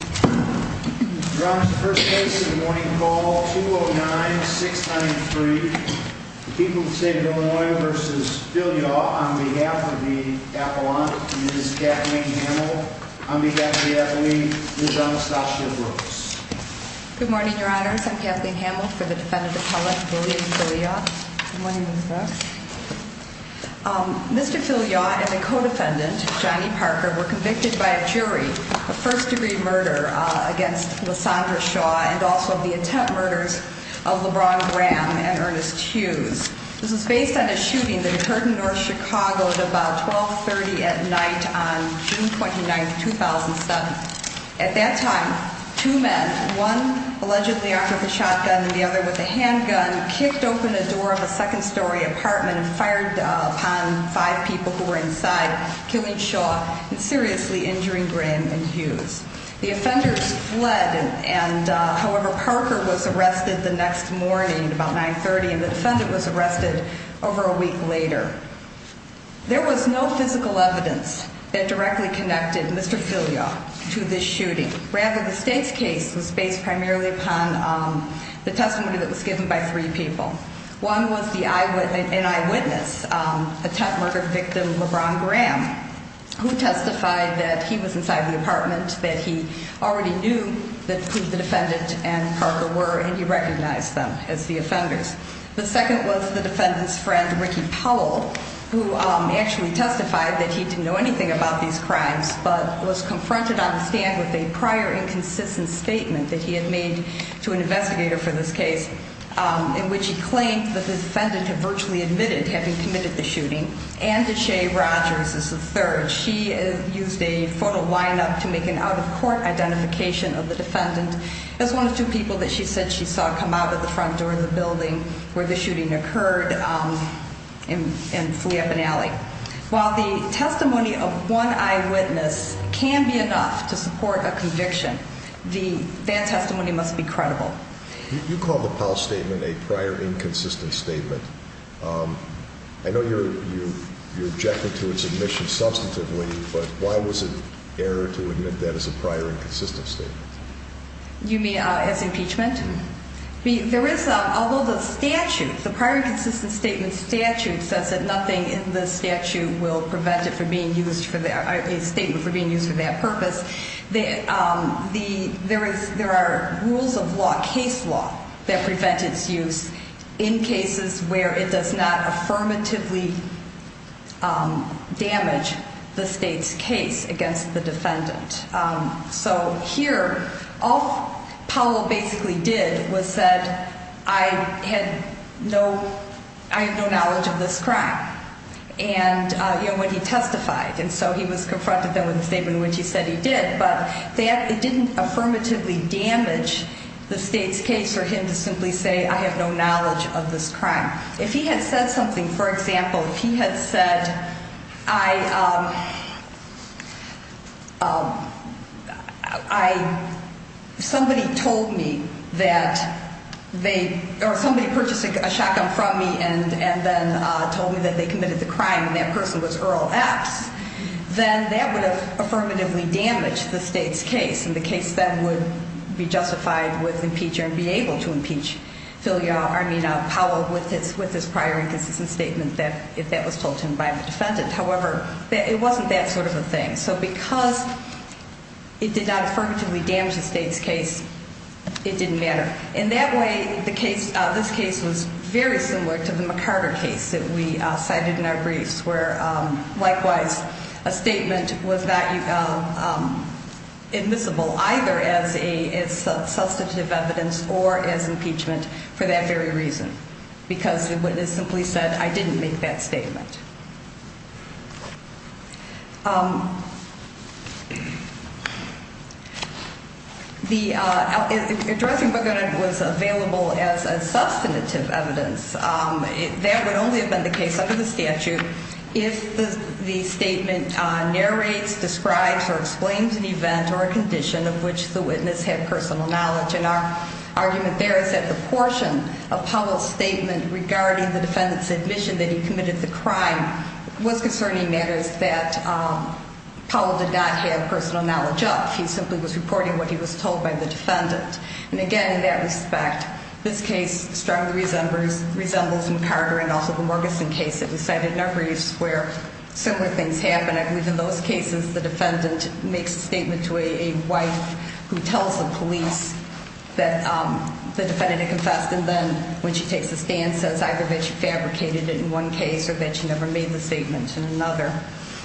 Good morning, Your Honors. I'm Kathleen Hamiltz for the defendant appellate, William Fillyaw. Mr. Fillyaw and the co-defendant, Johnny Parker, were convicted by a jury of first degree murder against Lysandra Shaw and also of the attempt murders of LeBron Graham and Ernest Hughes. This was based on a shooting that occurred in North Chicago at about 1230 at night on June 29, 2007. At that time, two men, one allegedly armed with a shotgun and the other with a handgun, kicked open the door of a second story apartment and fired upon five people who were inside, killing Shaw and seriously injuring Graham and Hughes. The offenders fled and, however, Parker was arrested the next morning at about 930 and the defendant was arrested over a week later. There was no physical evidence that directly connected Mr. Fillyaw to this shooting. Rather, the state's case was based primarily upon the testimony that was given by three people. One was an eyewitness, attempt murder victim LeBron Graham, who testified that he was inside the apartment, that he already knew who the defendant and Parker were and he recognized them as the offenders. The second was the defendant's friend, Ricky Powell, who actually testified that he didn't know anything about these crimes but was confronted on the stand with a prior inconsistent statement that he had made to an investigator for this case in which he claimed that the defendant had virtually admitted having committed the shooting. And Deshea Rogers is the third. She used a photo lineup to make an out-of-court identification of the defendant as one of two people that she said she saw come out of the front door of the building where the shooting occurred and flee up an alley. While the testimony of one eyewitness can be enough to support a conviction, that testimony must be credible. You call the Powell statement a prior inconsistent statement. I know you're objecting to its admission substantively, but why was it error to admit that as a prior inconsistent statement? You mean as impeachment? Although the prior inconsistent statement statute says that nothing in the statute will prevent a statement from being used for that purpose, there are rules of law, case law, that prevent its use in cases where it does not affirmatively damage the state's case against the defendant. So here, all Powell basically did was said, I have no knowledge of this crime when he testified. And so he was confronted then with a statement in which he said he did. But it didn't affirmatively damage the state's case for him to simply say, I have no knowledge of this crime. If he had said something, for example, if he had said, I, I, somebody told me that they or somebody purchased a shotgun from me and and then told me that they committed the crime. That person was Earl X, then that would have affirmatively damaged the state's case. And the case then would be justified with impeach and be able to impeach Philia, I mean Powell with his with his prior inconsistent statement that if that was told to him by the defendant. However, it wasn't that sort of a thing. So because it did not affirmatively damage the state's case, it didn't matter. And that way, the case, this case was very similar to the McCarter case that we cited in our briefs where, likewise, a statement was that admissible either as a substantive evidence or as impeachment for that very reason, because the witness simply said, I didn't make that statement. The addressing was available as a substantive evidence that would only have been the case under the statute if the statement narrates, describes or explains an event or a condition of which the witness had personal knowledge. And our argument there is that the portion of Powell's statement regarding the defendant's admission that he committed the crime was concerning matters that Powell did not have personal knowledge of. He simply was reporting what he was told by the defendant. And again, in that respect, this case strongly resembles McCarter and also the Morganson case that we cited in our briefs where similar things happen. I believe in those cases, the defendant makes a statement to a wife who tells the police that the defendant had confessed. And then when she takes a stand, says either that she fabricated it in one case or that she never made the statement in another.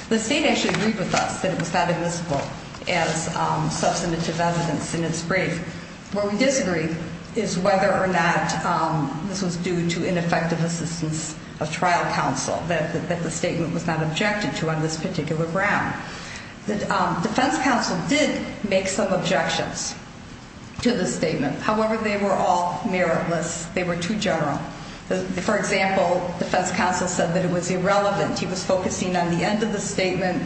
The state actually agreed with us that it was not admissible as substantive evidence in its brief. Where we disagree is whether or not this was due to ineffective assistance of trial counsel, that the statement was not objected to on this particular ground. The defense counsel did make some objections to the statement. However, they were all meritless. They were too general. For example, defense counsel said that it was irrelevant. He was focusing on the end of the statement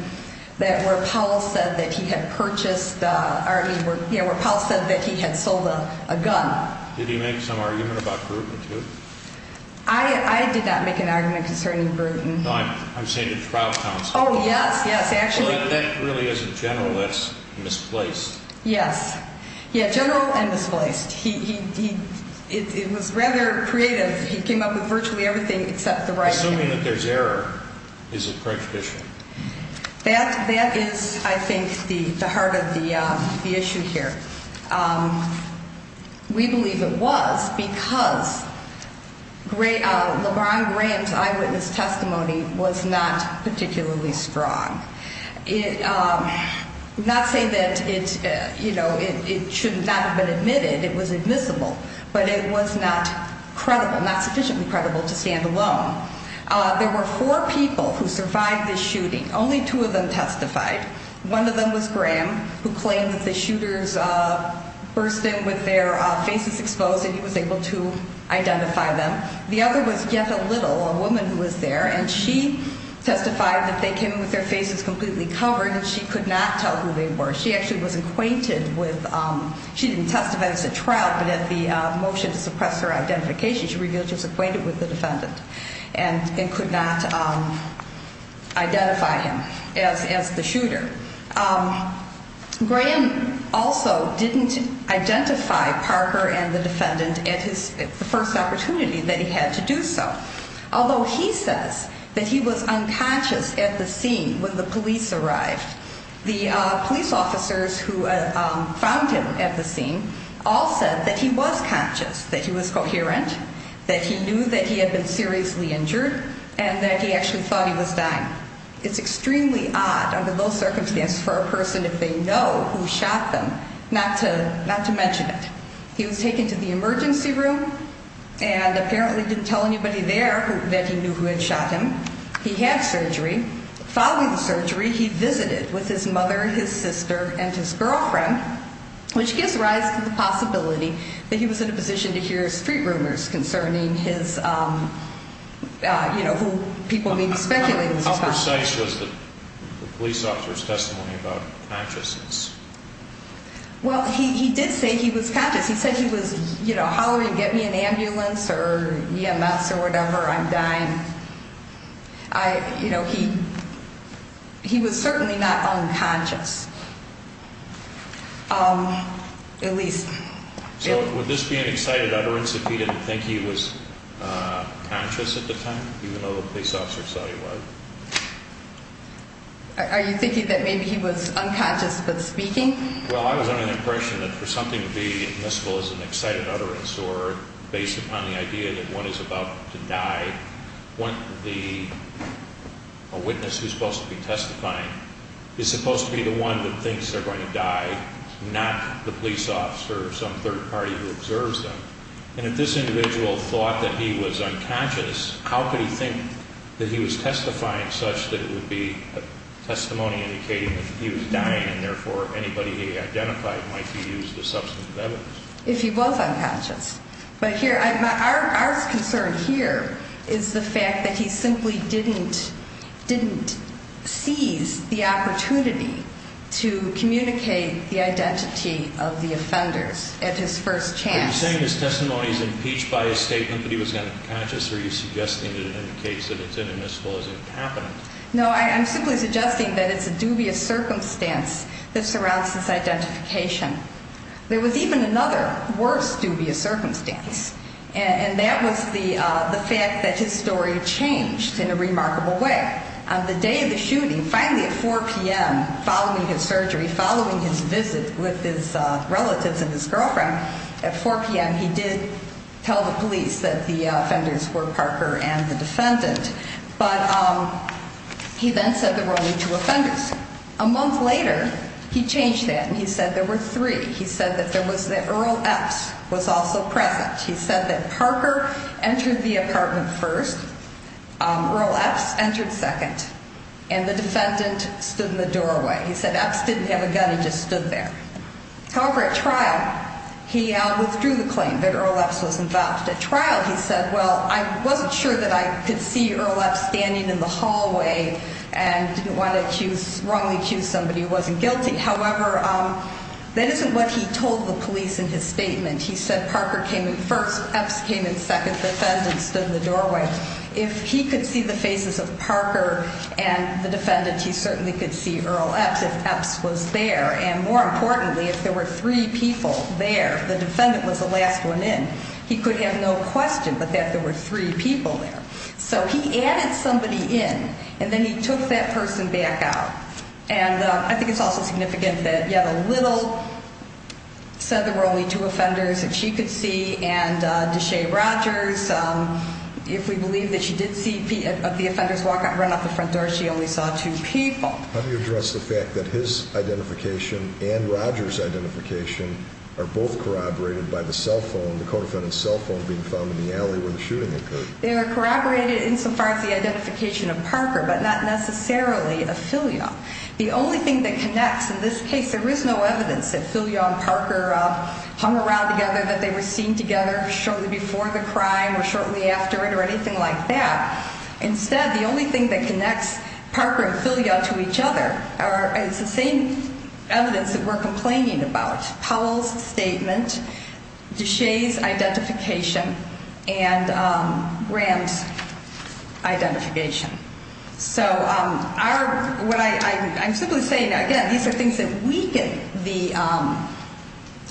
where Powell said that he had purchased, I mean, where Powell said that he had sold a gun. Did he make some argument about brutalty? I did not make an argument concerning brutalty. No, I'm saying the trial counsel. Oh, yes, yes. Well, that really isn't general. That's misplaced. Yes. Yeah, general and misplaced. It was rather creative. He came up with virtually everything except the right thing. So assuming that there's error, is it prejudicial? That is, I think, the heart of the issue here. We believe it was because LeBron Graham's eyewitness testimony was not particularly strong. I'm not saying that it should not have been admitted. It was admissible. But it was not credible, not sufficiently credible to stand alone. There were four people who survived the shooting. Only two of them testified. One of them was Graham, who claimed that the shooters burst in with their faces exposed and he was able to identify them. The other was Jetta Little, a woman who was there, and she testified that they came in with their faces completely covered and she could not tell who they were. She actually was acquainted with ‑‑ she didn't testify. It was a trial. But at the motion to suppress her identification, she revealed she was acquainted with the defendant and could not identify him as the shooter. Graham also didn't identify Parker and the defendant at the first opportunity that he had to do so, although he says that he was unconscious at the scene when the police arrived. The police officers who found him at the scene all said that he was conscious, that he was coherent, that he knew that he had been seriously injured, and that he actually thought he was dying. It's extremely odd under those circumstances for a person, if they know who shot them, not to mention it. He was taken to the emergency room and apparently didn't tell anybody there that he knew who had shot him. He had surgery. Following the surgery, he visited with his mother, his sister, and his girlfriend, which gives rise to the possibility that he was in a position to hear street rumors concerning his, you know, people may be speculating. How precise was the police officer's testimony about consciousness? Well, he did say he was conscious. He said he was, you know, hollering, get me an ambulance or EMS or whatever, I'm dying. You know, he was certainly not unconscious, at least. So would this be an excited utterance if he didn't think he was conscious at the time, even though the police officer saw he was? Are you thinking that maybe he was unconscious but speaking? Well, I was under the impression that for something to be admissible as an excited utterance or based upon the idea that one is about to die, a witness who's supposed to be testifying is supposed to be the one that thinks they're going to die, not the police officer or some third party who observes them. And if this individual thought that he was unconscious, how could he think that he was testifying such that it would be a testimony indicating that he was dying and therefore anybody he identified might be used as substantive evidence? If he was unconscious. But here, our concern here is the fact that he simply didn't seize the opportunity to communicate the identity of the offenders at his first chance. Are you saying his testimony is impeached by his statement that he was unconscious, or are you suggesting that it indicates that it's inadmissible as it happened? No, I'm simply suggesting that it's a dubious circumstance that surrounds his identification. There was even another worse dubious circumstance, and that was the fact that his story changed in a remarkable way. On the day of the shooting, finally at 4 p.m. following his surgery, following his visit with his relatives and his girlfriend, at 4 p.m. he did tell the police that the offenders were Parker and the defendant. But he then said there were only two offenders. A month later, he changed that and he said there were three. He said that Earl Epps was also present. He said that Parker entered the apartment first, Earl Epps entered second, and the defendant stood in the doorway. He said Epps didn't have a gun, he just stood there. However, at trial, he withdrew the claim that Earl Epps was involved. At trial, he said, well, I wasn't sure that I could see Earl Epps standing in the hallway and didn't want to wrongly accuse somebody who wasn't guilty. However, that isn't what he told the police in his statement. He said Parker came in first, Epps came in second, the defendant stood in the doorway. If he could see the faces of Parker and the defendant, he certainly could see Earl Epps if Epps was there. And more importantly, if there were three people there, if the defendant was the last one in, he could have no question but that there were three people there. So he added somebody in, and then he took that person back out. And I think it's also significant that yet a little said there were only two offenders that she could see, and Deshea Rogers, if we believe that she did see the offenders run out the front door, she only saw two people. How do you address the fact that his identification and Rogers' identification are both corroborated by the cell phone, the co-defendant's cell phone, being found in the alley where the shooting occurred? They are corroborated insofar as the identification of Parker, but not necessarily of Filion. The only thing that connects in this case, there is no evidence that Filion and Parker hung around together, that they were seen together shortly before the crime or shortly after it or anything like that. Instead, the only thing that connects Parker and Filion to each other is the same evidence that we're complaining about, Powell's statement, Deshea's identification, and Graham's identification. So I'm simply saying, again, these are things that weaken the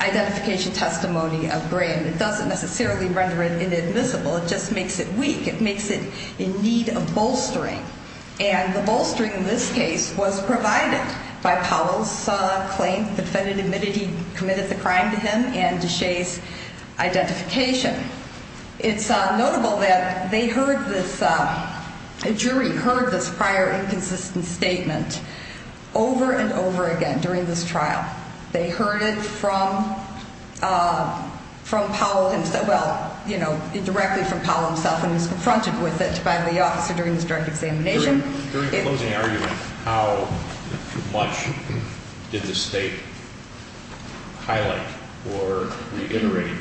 identification testimony of Graham. It doesn't necessarily render it inadmissible. It just makes it weak. It makes it in need of bolstering, and the bolstering in this case was provided by Powell's claim, the defendant admitted he committed the crime to him and Deshea's identification. It's notable that they heard this, a jury heard this prior inconsistent statement over and over again during this trial. They heard it from Powell himself, well, you know, directly from Powell himself, and was confronted with it by the officer during this direct examination. During the closing argument, how much did the state highlight or reiterate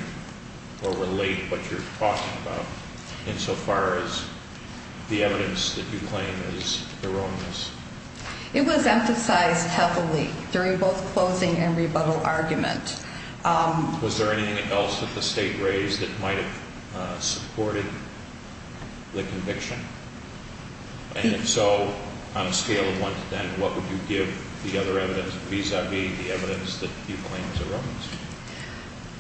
or relate what you're talking about, insofar as the evidence that you claim is erroneous? It was emphasized heavily during both closing and rebuttal argument. Was there anything else that the state raised that might have supported the conviction? And if so, on a scale of one to ten, what would you give the other evidence vis-a-vis the evidence that you claim is erroneous?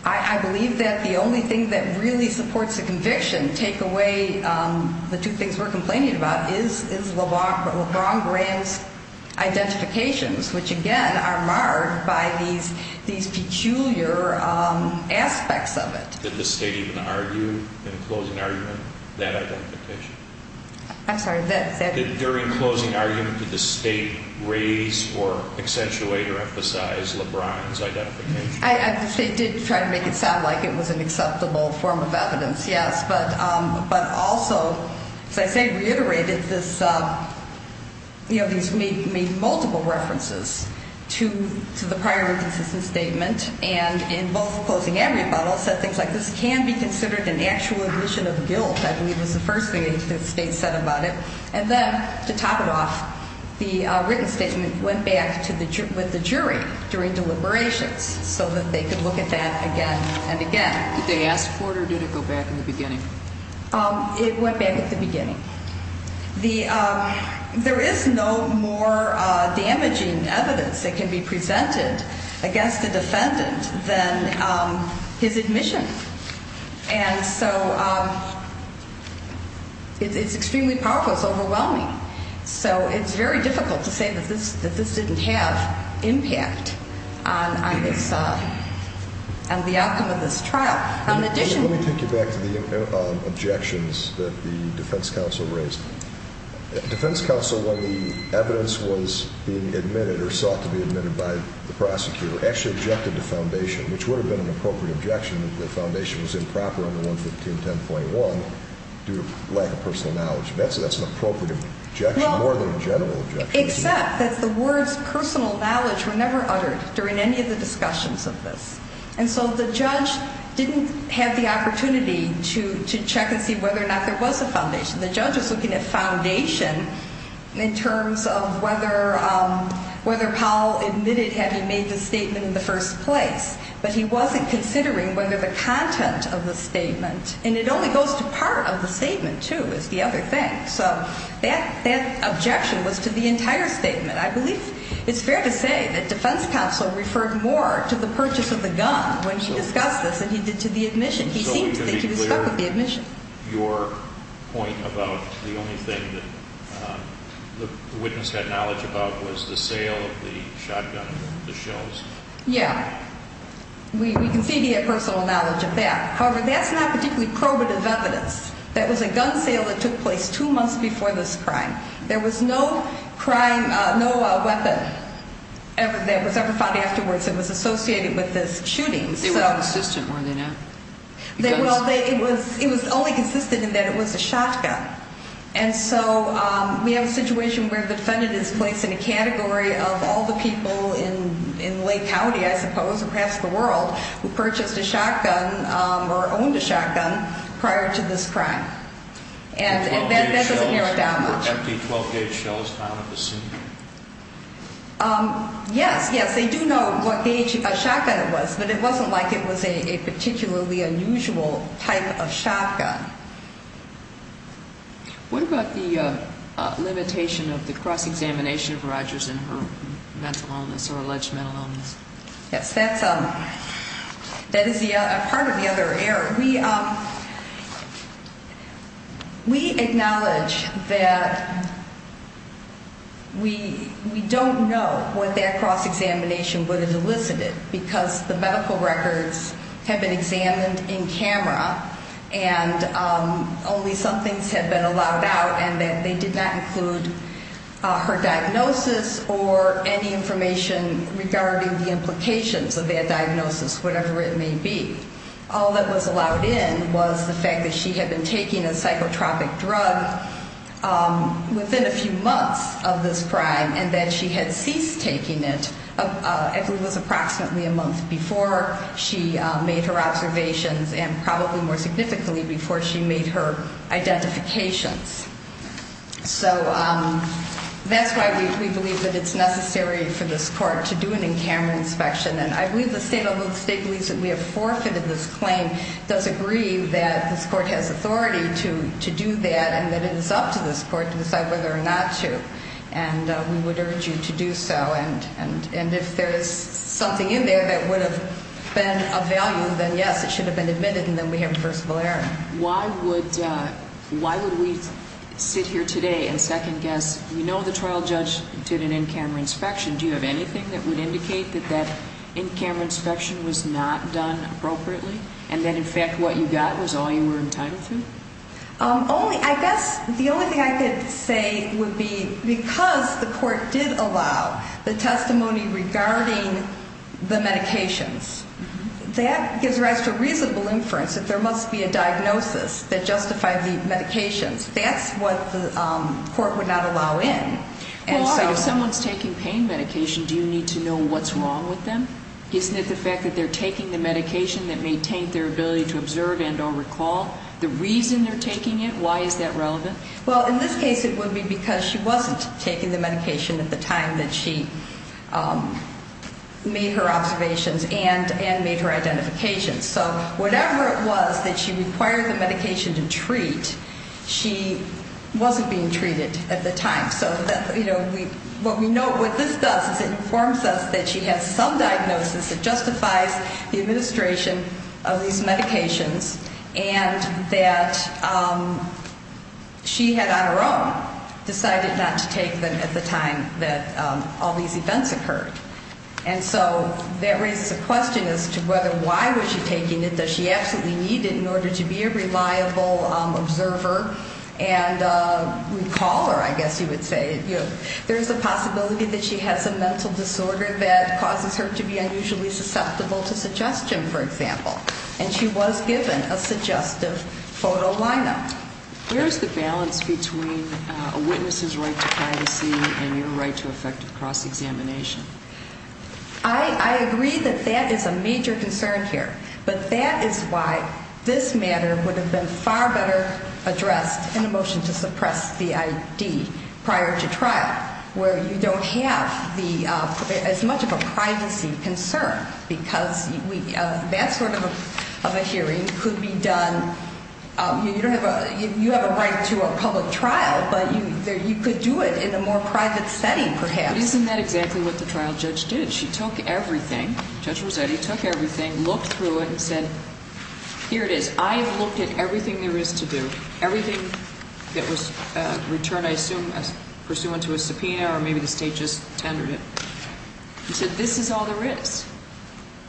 I believe that the only thing that really supports the conviction, take away the two things we're complaining about, is LeBron Graham's identifications, which again are marred by these peculiar aspects of it. Did the state even argue in the closing argument that identification? I'm sorry, that... During closing argument, did the state raise or accentuate or emphasize LeBron's identification? The state did try to make it sound like it was an acceptable form of evidence, yes, but also, as I say, reiterated this, you know, these made multiple references to the prior inconsistent statement, and in both closing and rebuttal said things like, this can be considered an actual admission of guilt, I believe was the first thing that the state said about it. And then, to top it off, the written statement went back with the jury during deliberations, so that they could look at that again and again. Did they ask for it or did it go back in the beginning? It went back at the beginning. There is no more damaging evidence that can be presented against a defendant than his admission, and so it's extremely powerful, it's overwhelming. So it's very difficult to say that this didn't have impact on the outcome of this trial. Let me take you back to the objections that the defense counsel raised. The defense counsel, when the evidence was being admitted or sought to be admitted by the prosecutor, actually objected to foundation, which would have been an appropriate objection if the foundation was improper under 11510.1 due to lack of personal knowledge. That's an appropriate objection more than a general objection. Except that the words personal knowledge were never uttered during any of the discussions of this. And so the judge didn't have the opportunity to check and see whether or not there was a foundation. The judge was looking at foundation in terms of whether Powell admitted having made the statement in the first place, but he wasn't considering whether the content of the statement, and it only goes to part of the statement, too, is the other thing. So that objection was to the entire statement. I believe it's fair to say that defense counsel referred more to the purchase of the gun when he discussed this than he did to the admission. He seems to think he was stuck with the admission. Your point about the only thing that the witness had knowledge about was the sale of the shotgun, the shells. Yeah. We can see he had personal knowledge of that. However, that's not particularly probative evidence. That was a gun sale that took place two months before this crime. There was no weapon that was ever found afterwards that was associated with this shooting. They weren't consistent, were they not? Well, it was only consistent in that it was a shotgun. And so we have a situation where the defendant is placed in a category of all the people in Lake County, I suppose, across the world who purchased a shotgun or owned a shotgun prior to this crime. And that doesn't narrow it down much. The 12-gauge shells found at the scene. Yes, yes, they do know what gauge a shotgun was, but it wasn't like it was a particularly unusual type of shotgun. What about the limitation of the cross-examination of Rogers and her mental illness or alleged mental illness? Yes, that is part of the other error. We acknowledge that we don't know what that cross-examination would have elicited because the medical records have been examined in camera and only some things have been allowed out and that they did not include her diagnosis or any information regarding the implications of that diagnosis, whatever it may be. All that was allowed in was the fact that she had been taking a psychotropic drug within a few months of this crime and that she had ceased taking it, I believe it was approximately a month before she made her observations and probably more significantly before she made her identifications. So that's why we believe that it's necessary for this court to do an in-camera inspection. And I believe the state, although the state believes that we have forfeited this claim, does agree that this court has authority to do that and that it is up to this court to decide whether or not to. And we would urge you to do so. And if there is something in there that would have been of value, then yes, it should have been admitted and then we have reversible error. Why would we sit here today and second-guess? You know the trial judge did an in-camera inspection. Do you have anything that would indicate that that in-camera inspection was not done appropriately and that, in fact, what you got was all you were entitled to? I guess the only thing I could say would be because the court did allow the testimony regarding the medications, that gives rise to a reasonable inference that there must be a diagnosis that justified the medications. That's what the court would not allow in. Well, if someone's taking pain medication, do you need to know what's wrong with them? Isn't it the fact that they're taking the medication that maintained their ability to observe and or recall? The reason they're taking it, why is that relevant? Well, in this case, it would be because she wasn't taking the medication at the time that she made her observations and made her identification. So whatever it was that she required the medication to treat, she wasn't being treated at the time. So what we know what this does is it informs us that she has some diagnosis that justifies the administration of these medications. And that she had, on her own, decided not to take them at the time that all these events occurred. And so that raises a question as to whether why was she taking it. Does she absolutely need it in order to be a reliable observer and recaller, I guess you would say. There's a possibility that she has some mental disorder that causes her to be unusually susceptible to suggestion, for example. And she was given a suggestive photo lineup. Where's the balance between a witness's right to privacy and your right to effective cross-examination? I agree that that is a major concern here. But that is why this matter would have been far better addressed in a motion to suppress the I.D. prior to trial. Where you don't have as much of a privacy concern. Because that sort of a hearing could be done. You have a right to a public trial, but you could do it in a more private setting, perhaps. Isn't that exactly what the trial judge did? She took everything. Judge Rossetti took everything, looked through it, and said, here it is. I have looked at everything there is to do. Everything that was returned, I assume, pursuant to a subpoena or maybe the State just tendered it. She said, this is all there is.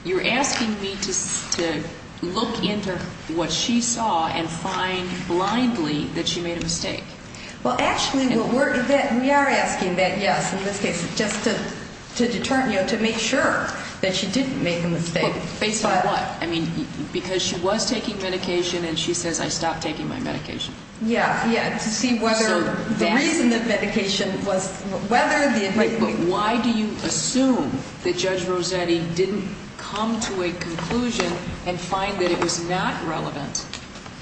You're asking me to look into what she saw and find blindly that she made a mistake. Well, actually, we are asking that, yes, in this case, just to determine, you know, to make sure that she didn't make a mistake. Based on what? I mean, because she was taking medication, and she says, I stopped taking my medication. Yeah. Yeah. To see whether the reason that medication was ‑‑ Wait, but why do you assume that Judge Rossetti didn't come to a conclusion and find that it was not relevant?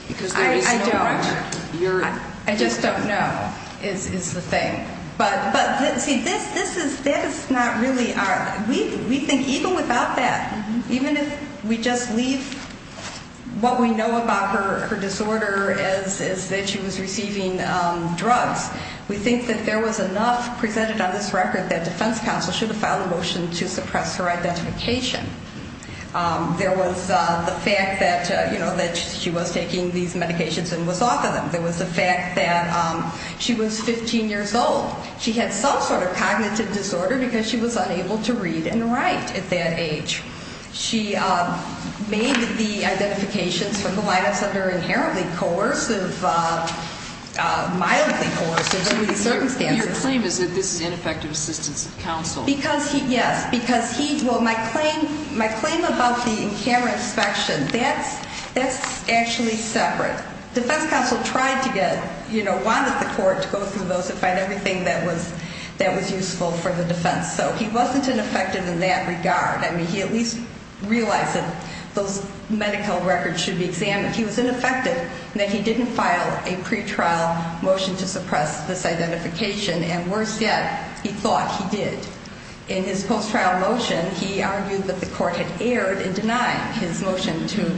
Because there is no ‑‑ I don't. I just don't know, is the thing. But, see, this is not really ‑‑ we think even without that, even if we just leave what we know about her disorder is that she was receiving drugs, we think that there was enough presented on this record that defense counsel should have filed a motion to suppress her identification. There was the fact that, you know, that she was taking these medications and was off of them. There was the fact that she was 15 years old. She had some sort of cognitive disorder because she was unable to read and write at that age. She made the identifications from the lineups under inherently coercive, mildly coercive circumstances. Your claim is that this is ineffective assistance of counsel. Because he, yes, because he, well, my claim about the in camera inspection, that's actually separate. But defense counsel tried to get, you know, wanted the court to go through those and find everything that was useful for the defense. So he wasn't ineffective in that regard. I mean, he at least realized that those medical records should be examined. He was ineffective in that he didn't file a pretrial motion to suppress this identification. And worse yet, he thought he did. In his post-trial motion, he argued that the court had erred in denying his motion to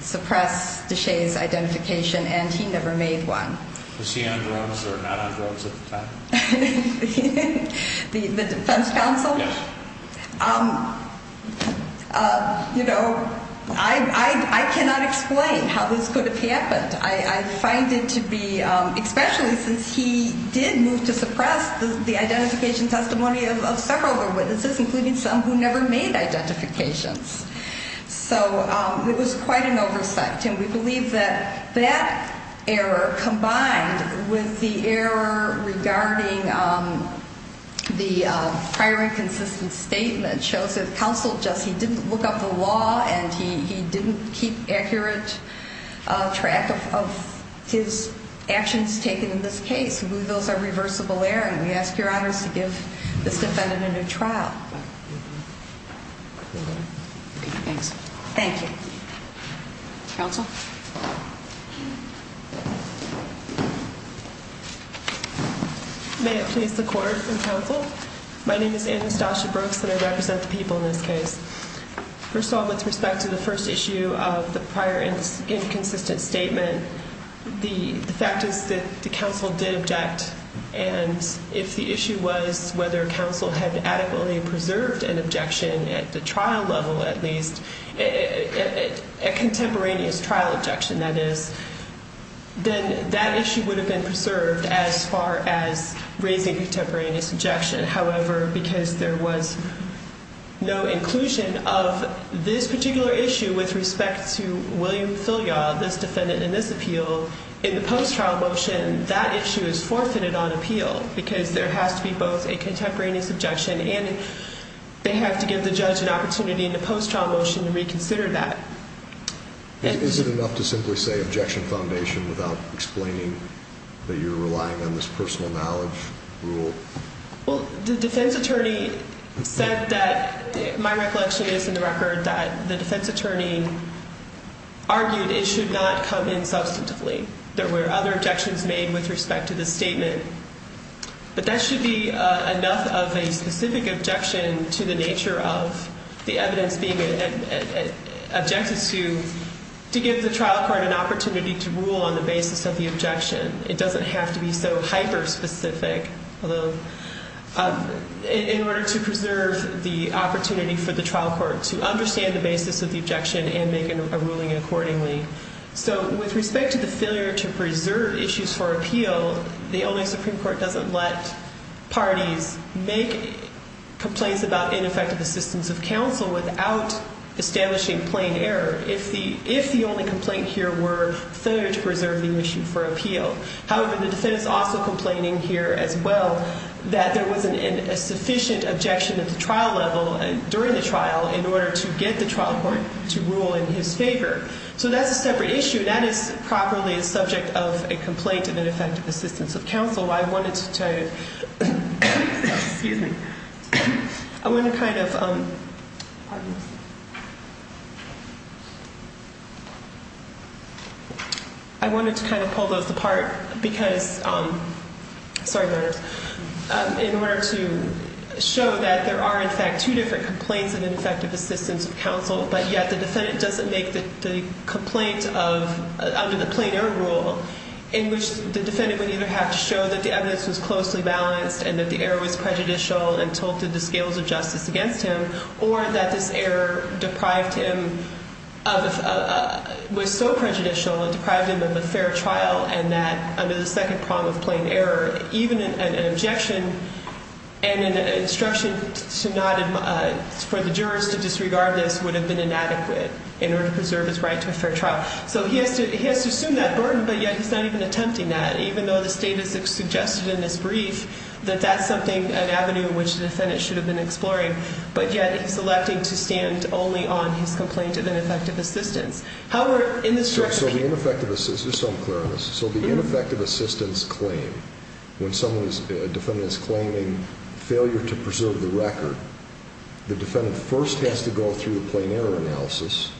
suppress Deshaies' identification, and he never made one. Was he on drugs or not on drugs at the time? The defense counsel? Yes. You know, I cannot explain how this could have happened. I find it to be, especially since he did move to suppress the identification testimony of several of the witnesses, including some who never made identifications. So it was quite an oversight. And we believe that that error, combined with the error regarding the prior inconsistent statement, shows that counsel just, he didn't look up the law, and he didn't keep accurate track of his actions taken in this case. Those are reversible errors. And we ask your honors to give this defendant a new trial. Thanks. Thank you. Counsel? May it please the court and counsel? My name is Anastasia Brooks, and I represent the people in this case. First of all, with respect to the first issue of the prior inconsistent statement, the fact is that the counsel did object. And if the issue was whether counsel had adequately preserved an objection at the trial level, at least, a contemporaneous trial objection, that is, then that issue would have been preserved as far as raising contemporaneous objection. However, because there was no inclusion of this particular issue with respect to William Filyaw, this defendant in this appeal, in the post-trial motion, that issue is forfeited on appeal. Because there has to be both a contemporaneous objection and they have to give the judge an opportunity in the post-trial motion to reconsider that. Is it enough to simply say objection foundation without explaining that you're relying on this personal knowledge rule? Well, the defense attorney said that, my recollection is in the record, that the defense attorney argued it should not come in substantively. There were other objections made with respect to this statement. But that should be enough of a specific objection to the nature of the evidence being objected to, to give the trial court an opportunity to rule on the basis of the objection. It doesn't have to be so hyper-specific in order to preserve the opportunity for the trial court to understand the basis of the objection and make a ruling accordingly. So with respect to the failure to preserve issues for appeal, the only Supreme Court doesn't let parties make complaints about ineffective assistance of counsel without establishing plain error. If the only complaint here were failure to preserve the issue for appeal. However, the defense is also complaining here as well that there wasn't a sufficient objection at the trial level, during the trial, in order to get the trial court to rule in his favor. So that's a separate issue. That is properly a subject of a complaint of ineffective assistance of counsel. I wanted to kind of pull those apart because in order to show that there are, in fact, two different complaints of ineffective assistance of counsel, but yet the defendant doesn't make the complaint of, under the plain error rule, in which the defendant would either have to show that the evidence was closely balanced and that the error was prejudicial and tilted the scales of justice against him, or that this error deprived him of, was so prejudicial, it deprived him of a fair trial, and that under the second prong of plain error, even an objection and an instruction for the jurors to disregard this would have been inadequate in order to preserve his right to a fair trial. So he has to assume that burden, but yet he's not even attempting that, even though the state has suggested in this brief that that's something, an avenue in which the defendant should have been exploring, but yet he's electing to stand only on his complaint of ineffective assistance. So the ineffective assistance, just so I'm clear on this, so the ineffective assistance claim, when someone's, a defendant's claiming failure to preserve the record, the defendant first has to go through the plain error analysis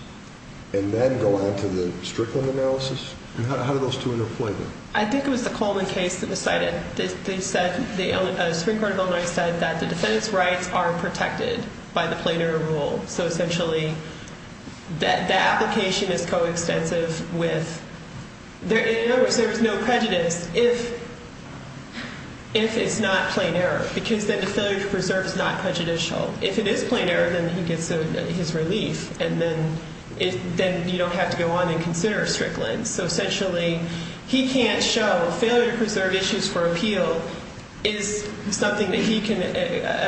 and then go on to the Strickland analysis? And how do those two interplay there? I think it was the Coleman case that decided, they said, the Supreme Court of Illinois said that the defendant's rights are protected by the plain error rule. So essentially, the application is coextensive with, in other words, there is no prejudice if it's not plain error, because then the failure to preserve is not prejudicial. If it is plain error, then he gets his relief, and then you don't have to go on and consider Strickland. So essentially, he can't show, failure to preserve issues for appeal is something that he can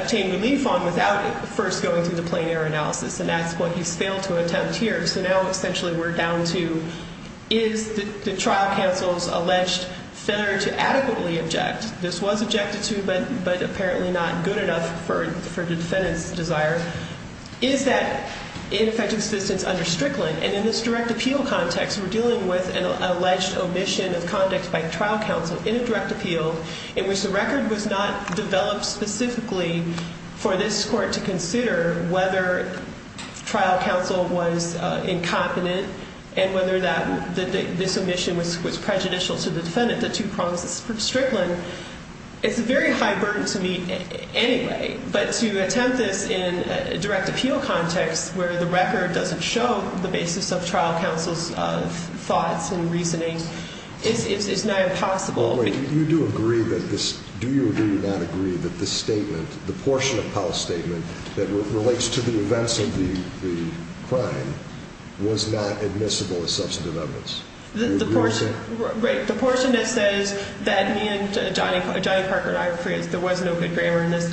obtain relief on without first going through the plain error analysis, and that's what he's failed to attempt here. So now, essentially, we're down to, is the trial counsel's alleged failure to adequately object? This was objected to, but apparently not good enough for the defendant's desire. Is that ineffective assistance under Strickland? And in this direct appeal context, we're dealing with an alleged omission of conduct by trial counsel in a direct appeal, in which the record was not developed specifically for this court to consider whether trial counsel was incompetent and whether this omission was prejudicial to the defendant, the two promises from Strickland. So it's a very high burden to me anyway, but to attempt this in a direct appeal context where the record doesn't show the basis of trial counsel's thoughts and reasoning, it's not impossible. Wait, you do agree that this, do you or do you not agree that this statement, the portion of Powell's statement that relates to the events of the crime, was not admissible as substantive evidence? Right, the portion that says that me and Johnny Parker, and I rephrase, there was no good grammar in this,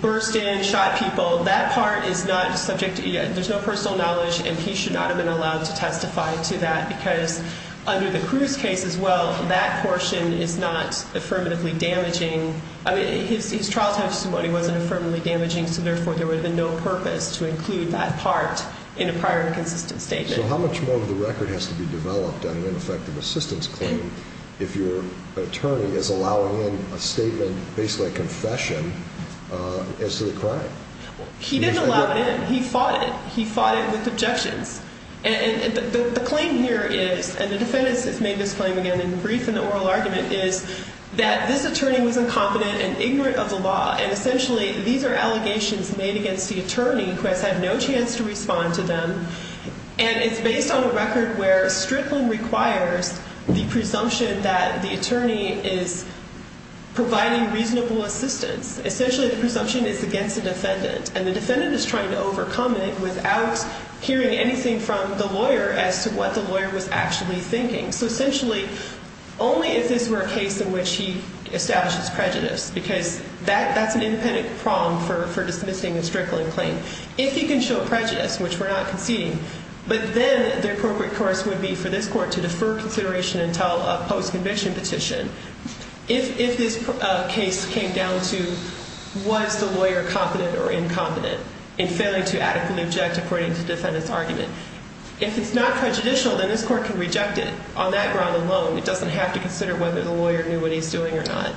burst in, shot people, that part is not subject, there's no personal knowledge, and he should not have been allowed to testify to that because under the Cruz case as well, that portion is not affirmatively damaging. I mean, his trial testimony wasn't affirmatively damaging, so therefore there would have been no purpose to include that part in a prior and consistent statement. So how much more of the record has to be developed on an ineffective assistance claim if your attorney is allowing in a statement, basically a confession, as to the crime? He didn't allow it in. He fought it. He fought it with objections. And the claim here is, and the defendant has made this claim again in brief in the oral argument, is that this attorney was incompetent and ignorant of the law, and essentially these are allegations made against the attorney who has had no chance to respond to them, and it's based on a record where strickling requires the presumption that the attorney is providing reasonable assistance. Essentially the presumption is against the defendant, and the defendant is trying to overcome it without hearing anything from the lawyer as to what the lawyer was actually thinking. So essentially only if this were a case in which he establishes prejudice, because that's an independent prong for dismissing a strickling claim. If he can show prejudice, which we're not conceding, but then the appropriate course would be for this court to defer consideration until a post-conviction petition. If this case came down to was the lawyer competent or incompetent in failing to adequately object according to the defendant's argument, if it's not prejudicial, then this court can reject it on that ground alone. It doesn't have to consider whether the lawyer knew what he was doing or not.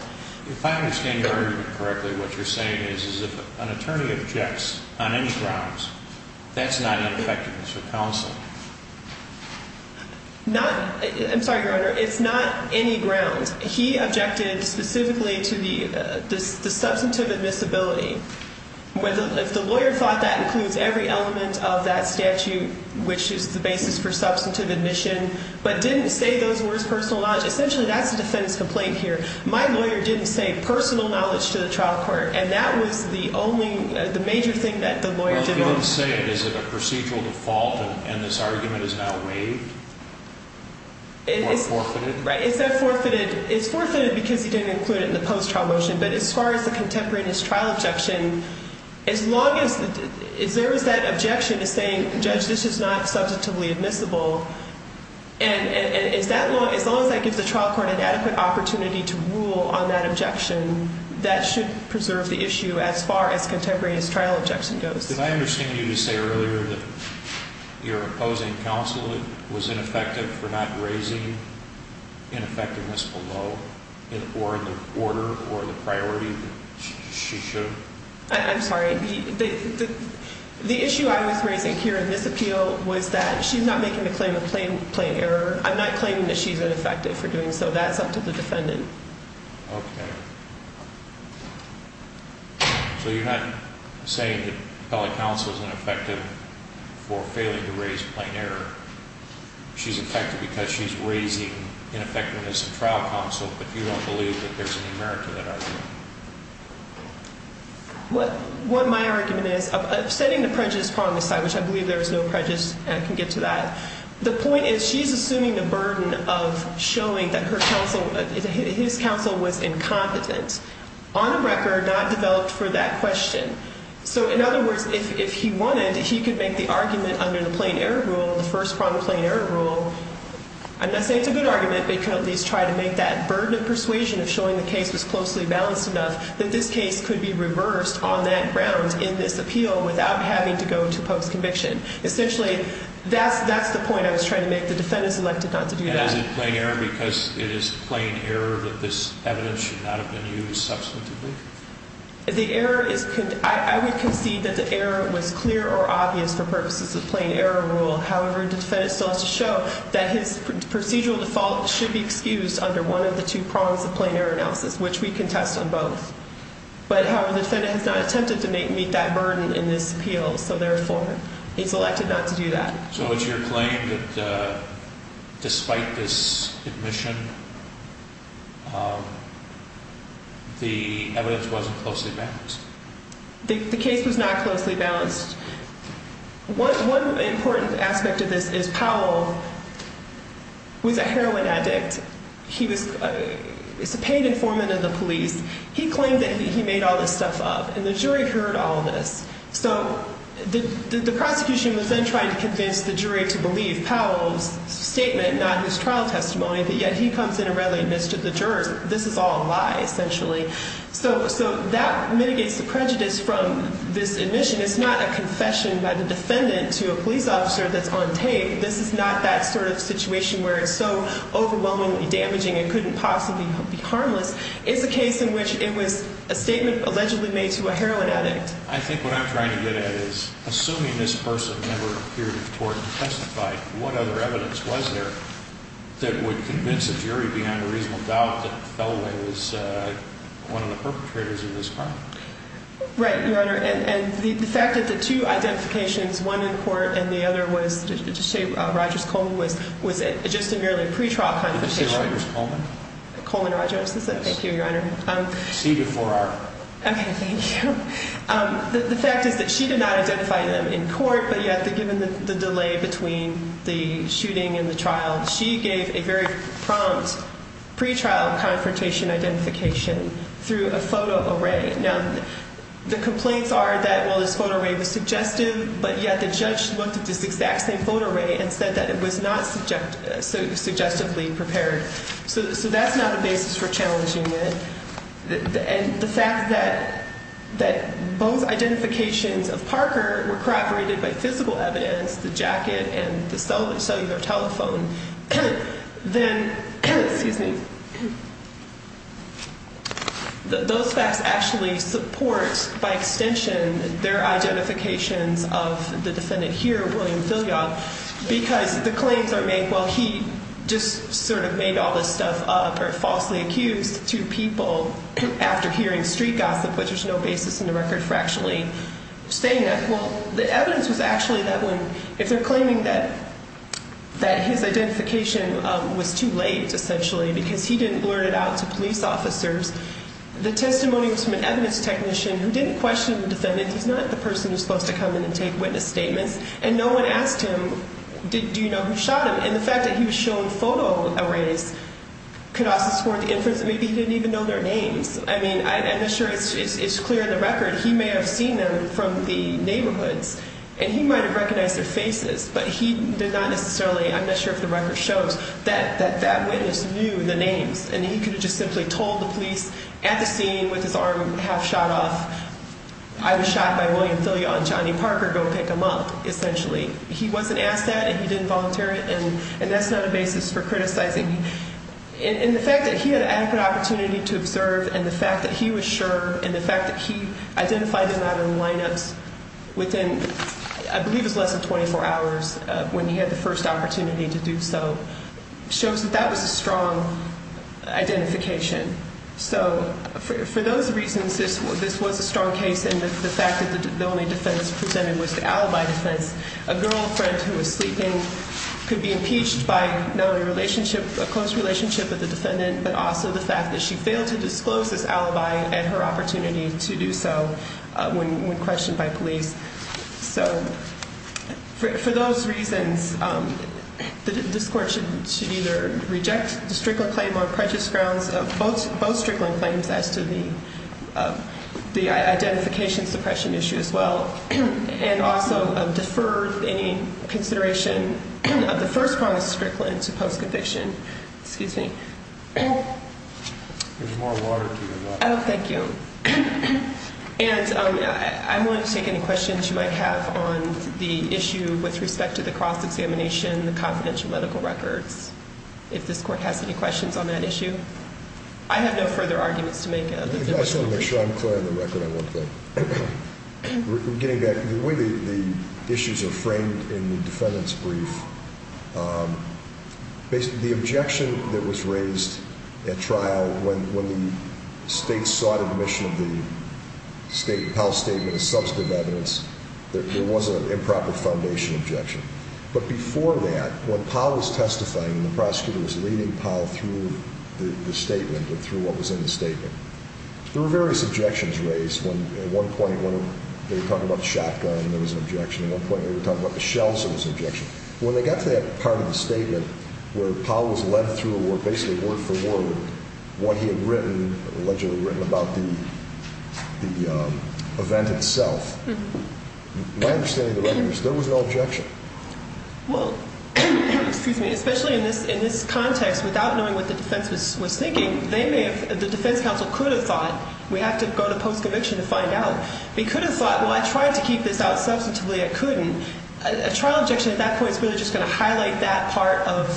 If I understand your argument correctly, what you're saying is if an attorney objects on any grounds, that's not ineffectiveness for counsel. I'm sorry, Your Honor, it's not any grounds. He objected specifically to the substantive admissibility. If the lawyer thought that includes every element of that statute, which is the basis for substantive admission, but didn't say those words personal knowledge, essentially that's the defendant's complaint here. My lawyer didn't say personal knowledge to the trial court, and that was the only major thing that the lawyer did want to say. Well, if he didn't say it, is it a procedural default, and this argument is now waived or forfeited? Right. It's forfeited because he didn't include it in the post-trial motion, but as far as the contemporaneous trial objection, as long as there is that objection to saying, Judge, this is not substantively admissible, and as long as that gives the trial court an adequate opportunity to rule on that objection, that should preserve the issue as far as contemporaneous trial objection goes. Did I understand you to say earlier that your opposing counsel was ineffective for not raising ineffectiveness below or in the order or the priority that she should? I'm sorry. The issue I was raising here in this appeal was that she's not making a claim of plain error. I'm not claiming that she's ineffective for doing so. That's up to the defendant. Okay. So you're not saying that appellate counsel is ineffective for failing to raise plain error. She's effective because she's raising ineffectiveness in trial counsel, but you don't believe that there's any merit to that argument? What my argument is, of setting the prejudice part on the side, which I believe there is no prejudice, and I can get to that, the point is she's assuming the burden of showing that her counsel, his counsel was incompetent, on a record not developed for that question. So in other words, if he wanted, he could make the argument under the plain error rule, the first prompt plain error rule. I'm not saying it's a good argument, but he could at least try to make that burden of persuasion of showing the case was closely balanced enough that this case could be reversed on that ground in this appeal without having to go to post-conviction. Essentially, that's the point I was trying to make. The defendant is elected not to do that. And is it plain error because it is plain error that this evidence should not have been used substantively? The error is, I would concede that the error was clear or obvious for purposes of plain error rule. However, the defendant still has to show that his procedural default should be excused under one of the two prongs of plain error analysis, which we contest on both. However, the defendant has not attempted to meet that burden in this appeal, so therefore, he's elected not to do that. So it's your claim that despite this admission, the evidence wasn't closely balanced? The case was not closely balanced. One important aspect of this is Powell was a heroin addict. He was a paid informant in the police. He claimed that he made all this stuff up, and the jury heard all this. So the prosecution was then trying to convince the jury to believe Powell's statement, not his trial testimony, but yet he comes in and readily admits to the jurors that this is all a lie, essentially. So that mitigates the prejudice from this admission. It's not a confession by the defendant to a police officer that's on tape. This is not that sort of situation where it's so overwhelmingly damaging it couldn't possibly be harmless. It's a case in which it was a statement allegedly made to a heroin addict. I think what I'm trying to get at is, assuming this person never appeared in court and testified, what other evidence was there that would convince a jury beyond a reasonable doubt that Feliway was one of the perpetrators of this crime? Right, Your Honor. And the fact that the two identifications, one in court and the other was, just to say, Rogers-Coleman, was just a merely pretrial condemnation. Did you say Rogers-Coleman? Coleman Rogers. Thank you, Your Honor. C before R. Okay, thank you. The fact is that she did not identify them in court, but yet given the delay between the shooting and the trial, she gave a very prompt pretrial confrontation identification through a photo array. Now, the complaints are that, well, this photo array was suggestive, but yet the judge looked at this exact same photo array and said that it was not suggestively prepared. So that's not a basis for challenging it. And the fact that both identifications of Parker were corroborated by physical evidence, the jacket and the cellular telephone, then, excuse me, those facts actually support by extension their identifications of the defendant here, because the claims are made, well, he just sort of made all this stuff up or falsely accused two people after hearing street gossip, which there's no basis in the record for actually saying that. Well, the evidence was actually that when, if they're claiming that his identification was too late essentially because he didn't blurt it out to police officers, the testimony was from an evidence technician who didn't question the defendant. He's not the person who's supposed to come in and take witness statements. And no one asked him, do you know who shot him? And the fact that he was shown photo arrays could also support the inference that maybe he didn't even know their names. I mean, I'm not sure it's clear in the record. He may have seen them from the neighborhoods, and he might have recognized their faces, but he did not necessarily, I'm not sure if the record shows, that that witness knew the names. And he could have just simply told the police at the scene with his arm half shot off, I was shot by William Thilia on Johnny Parker, go pick him up, essentially. He wasn't asked that, and he didn't volunteer it, and that's not a basis for criticizing. And the fact that he had adequate opportunity to observe, and the fact that he was sure, and the fact that he identified him out of the lineups within, I believe it was less than 24 hours, when he had the first opportunity to do so, shows that that was a strong identification. So for those reasons, this was a strong case, and the fact that the only defense presented was the alibi defense. A girlfriend who was sleeping could be impeached by not only a close relationship with the defendant, but also the fact that she failed to disclose this alibi at her opportunity to do so when questioned by police. So for those reasons, this court should either reject the Strickland claim or prejudice grounds of both Strickland claims as to the identification suppression issue as well, and also defer any consideration of the first promise of Strickland to post-conviction. Excuse me. There's more water to your water. Oh, thank you. And I want to take any questions you might have on the issue with respect to the cross-examination, the confidential medical records, if this court has any questions on that issue. I have no further arguments to make. I'm not sure I'm clear on the record on one thing. Getting back to the way the issues are framed in the defendant's brief, the objection that was raised at trial when the state sought admission of the Powell Statement as substantive evidence, there was an improper foundation objection. But before that, when Powell was testifying and the prosecutor was leading Powell through the statement and through what was in the statement, there were various objections raised. At one point, they were talking about the shotgun. There was an objection. At one point, they were talking about the shells. There also was an objection. When they got to that part of the statement where Powell was led through basically word for word what he had allegedly written about the event itself, my understanding of the record is there was no objection. Well, excuse me, especially in this context, without knowing what the defense was thinking, the defense counsel could have thought, we have to go to post-conviction to find out. They could have thought, well, I tried to keep this out substantively. I couldn't. A trial objection at that point is really just going to highlight that part of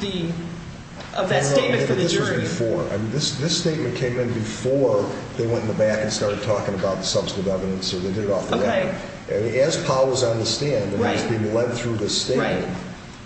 that statement for the jury. No, but this was before. I mean, this statement came in before they went in the back and started talking about the substantive evidence or they did it off the record. Okay. And as Powell was on the stand and was being led through the statement,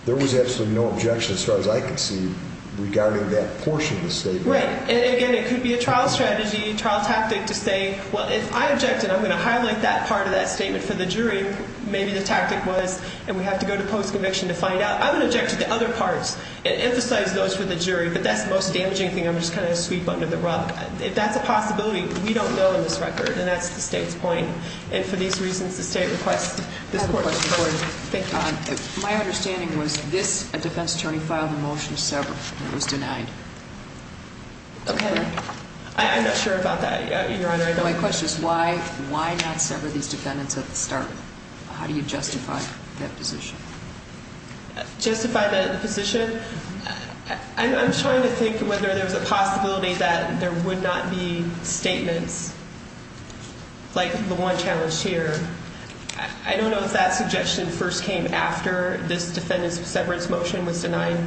there was absolutely no objection as far as I could see regarding that portion of the statement. Right. And, again, it could be a trial strategy, trial tactic to say, well, if I objected, I'm going to highlight that part of that statement for the jury. Maybe the tactic was, and we have to go to post-conviction to find out. I would object to the other parts and emphasize those for the jury, but that's the most damaging thing. I'm just kind of a sweep under the rug. If that's a possibility, we don't know in this record, and that's the state's point. And for these reasons, the state requests this court to record it. Thank you. My understanding was this defense attorney filed a motion to sever and it was denied. Okay. I'm not sure about that, Your Honor. My question is why not sever these defendants at the start? How do you justify that position? Justify the position? I'm trying to think whether there's a possibility that there would not be statements like the one challenged here. I don't know if that suggestion first came after this defendant's severance motion was denied.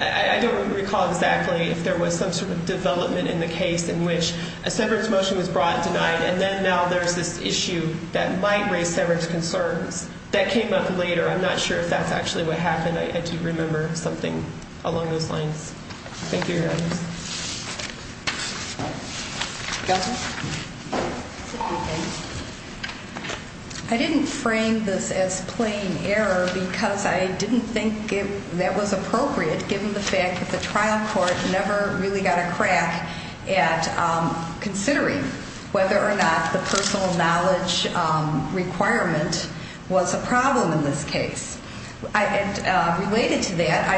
I don't recall exactly if there was some sort of development in the case in which a severance motion was brought and denied, and then now there's this issue that might raise severance concerns. That came up later. I'm not sure if that's actually what happened. I do remember something along those lines. Thank you, Your Honor. Counsel? I didn't frame this as plain error because I didn't think that was appropriate, given the fact that the trial court never really got a crack at considering whether or not the personal knowledge requirement was a problem in this case. Related to that,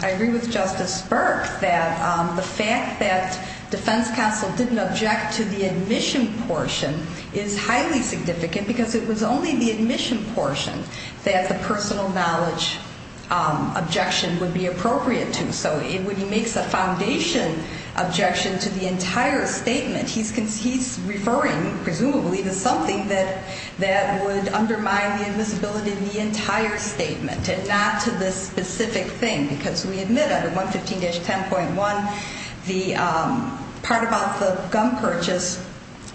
I agree with Justice Burke that the fact that defense counsel didn't object to the admission portion is highly significant because it was only the admission portion that the personal knowledge objection would be appropriate to. So when he makes a foundation objection to the entire statement, he's referring, presumably, to something that would undermine the admissibility of the entire statement and not to this specific thing because we admit under 115-10.1, the part about the gun purchase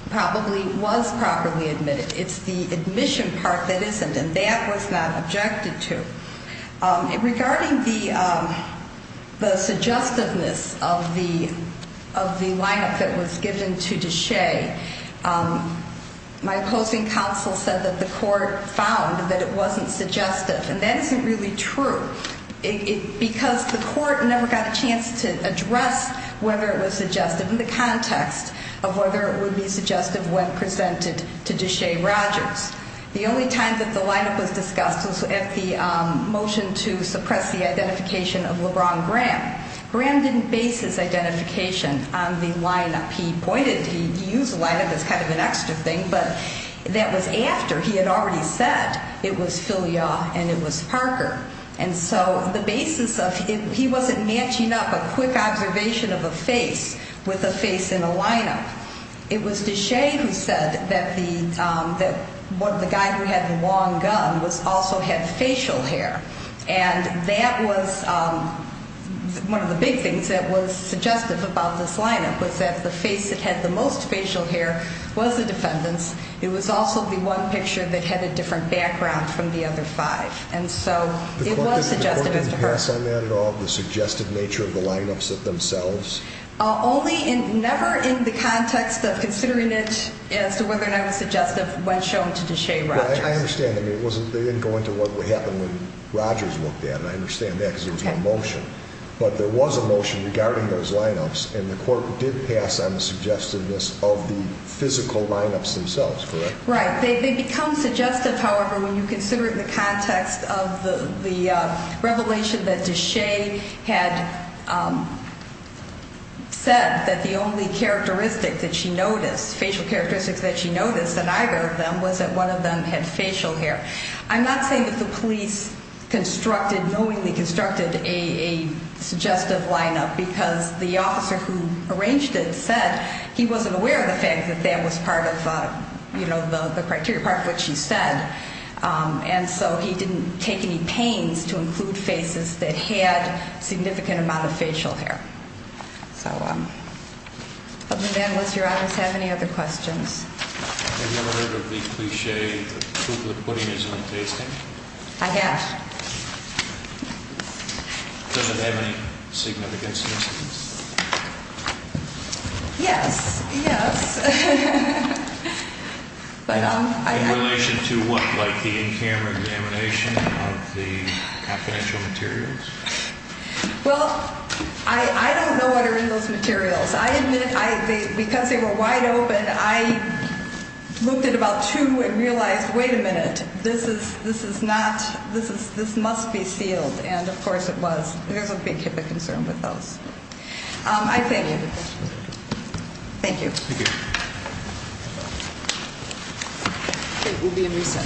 probably was properly admitted. It's the admission part that isn't, and that was not objected to. Regarding the suggestiveness of the lineup that was given to Deshaie, my opposing counsel said that the court found that it wasn't suggestive, and that isn't really true because the court never got a chance to address whether it was suggestive in the context of whether it would be suggestive when presented to Deshaie Rogers. The only time that the lineup was discussed was at the motion to suppress the identification of LeBron Graham. Graham didn't base his identification on the lineup. He pointed, he used the lineup as kind of an extra thing, but that was after he had already said it was Filia and it was Parker. And so the basis of it, he wasn't matching up a quick observation of a face with a face in a lineup. It was Deshaie who said that the guy who had the long gun also had facial hair, and that was one of the big things that was suggestive about this lineup, was that the face that had the most facial hair was the defendant's. It was also the one picture that had a different background from the other five, and so it was suggestive. The court didn't pass on that at all, the suggested nature of the lineups themselves? Only in, never in the context of considering it as to whether or not it was suggestive when shown to Deshaie Rogers. Well, I understand, I mean, it wasn't, they didn't go into what would happen when Rogers looked at it, and I understand that because there was no motion, but there was a motion regarding those lineups, and the court did pass on the suggestedness of the physical lineups themselves, correct? Right. They become suggestive, however, when you consider the context of the revelation that Deshaie had said that the only characteristic that she noticed, facial characteristics that she noticed in either of them, was that one of them had facial hair. I'm not saying that the police constructed, knowingly constructed a suggestive lineup, because the officer who arranged it said he wasn't aware of the fact that that was part of, you know, the criteria, part of what she said, and so he didn't take any pains to include faces that had a significant amount of facial hair. So, other than that, does Your Honors have any other questions? Have you ever heard of the cliché that chocolate pudding is not tasting? I have. Does it have any significant significance? Yes, yes. In relation to what, like the in-camera examination of the confidential materials? Well, I don't know what are in those materials. I admit, because they were wide open, I looked at about two and realized, wait a minute, this is not, this must be sealed, and of course it was. There's a big concern with those. I thank you. Thank you. We'll be in recess.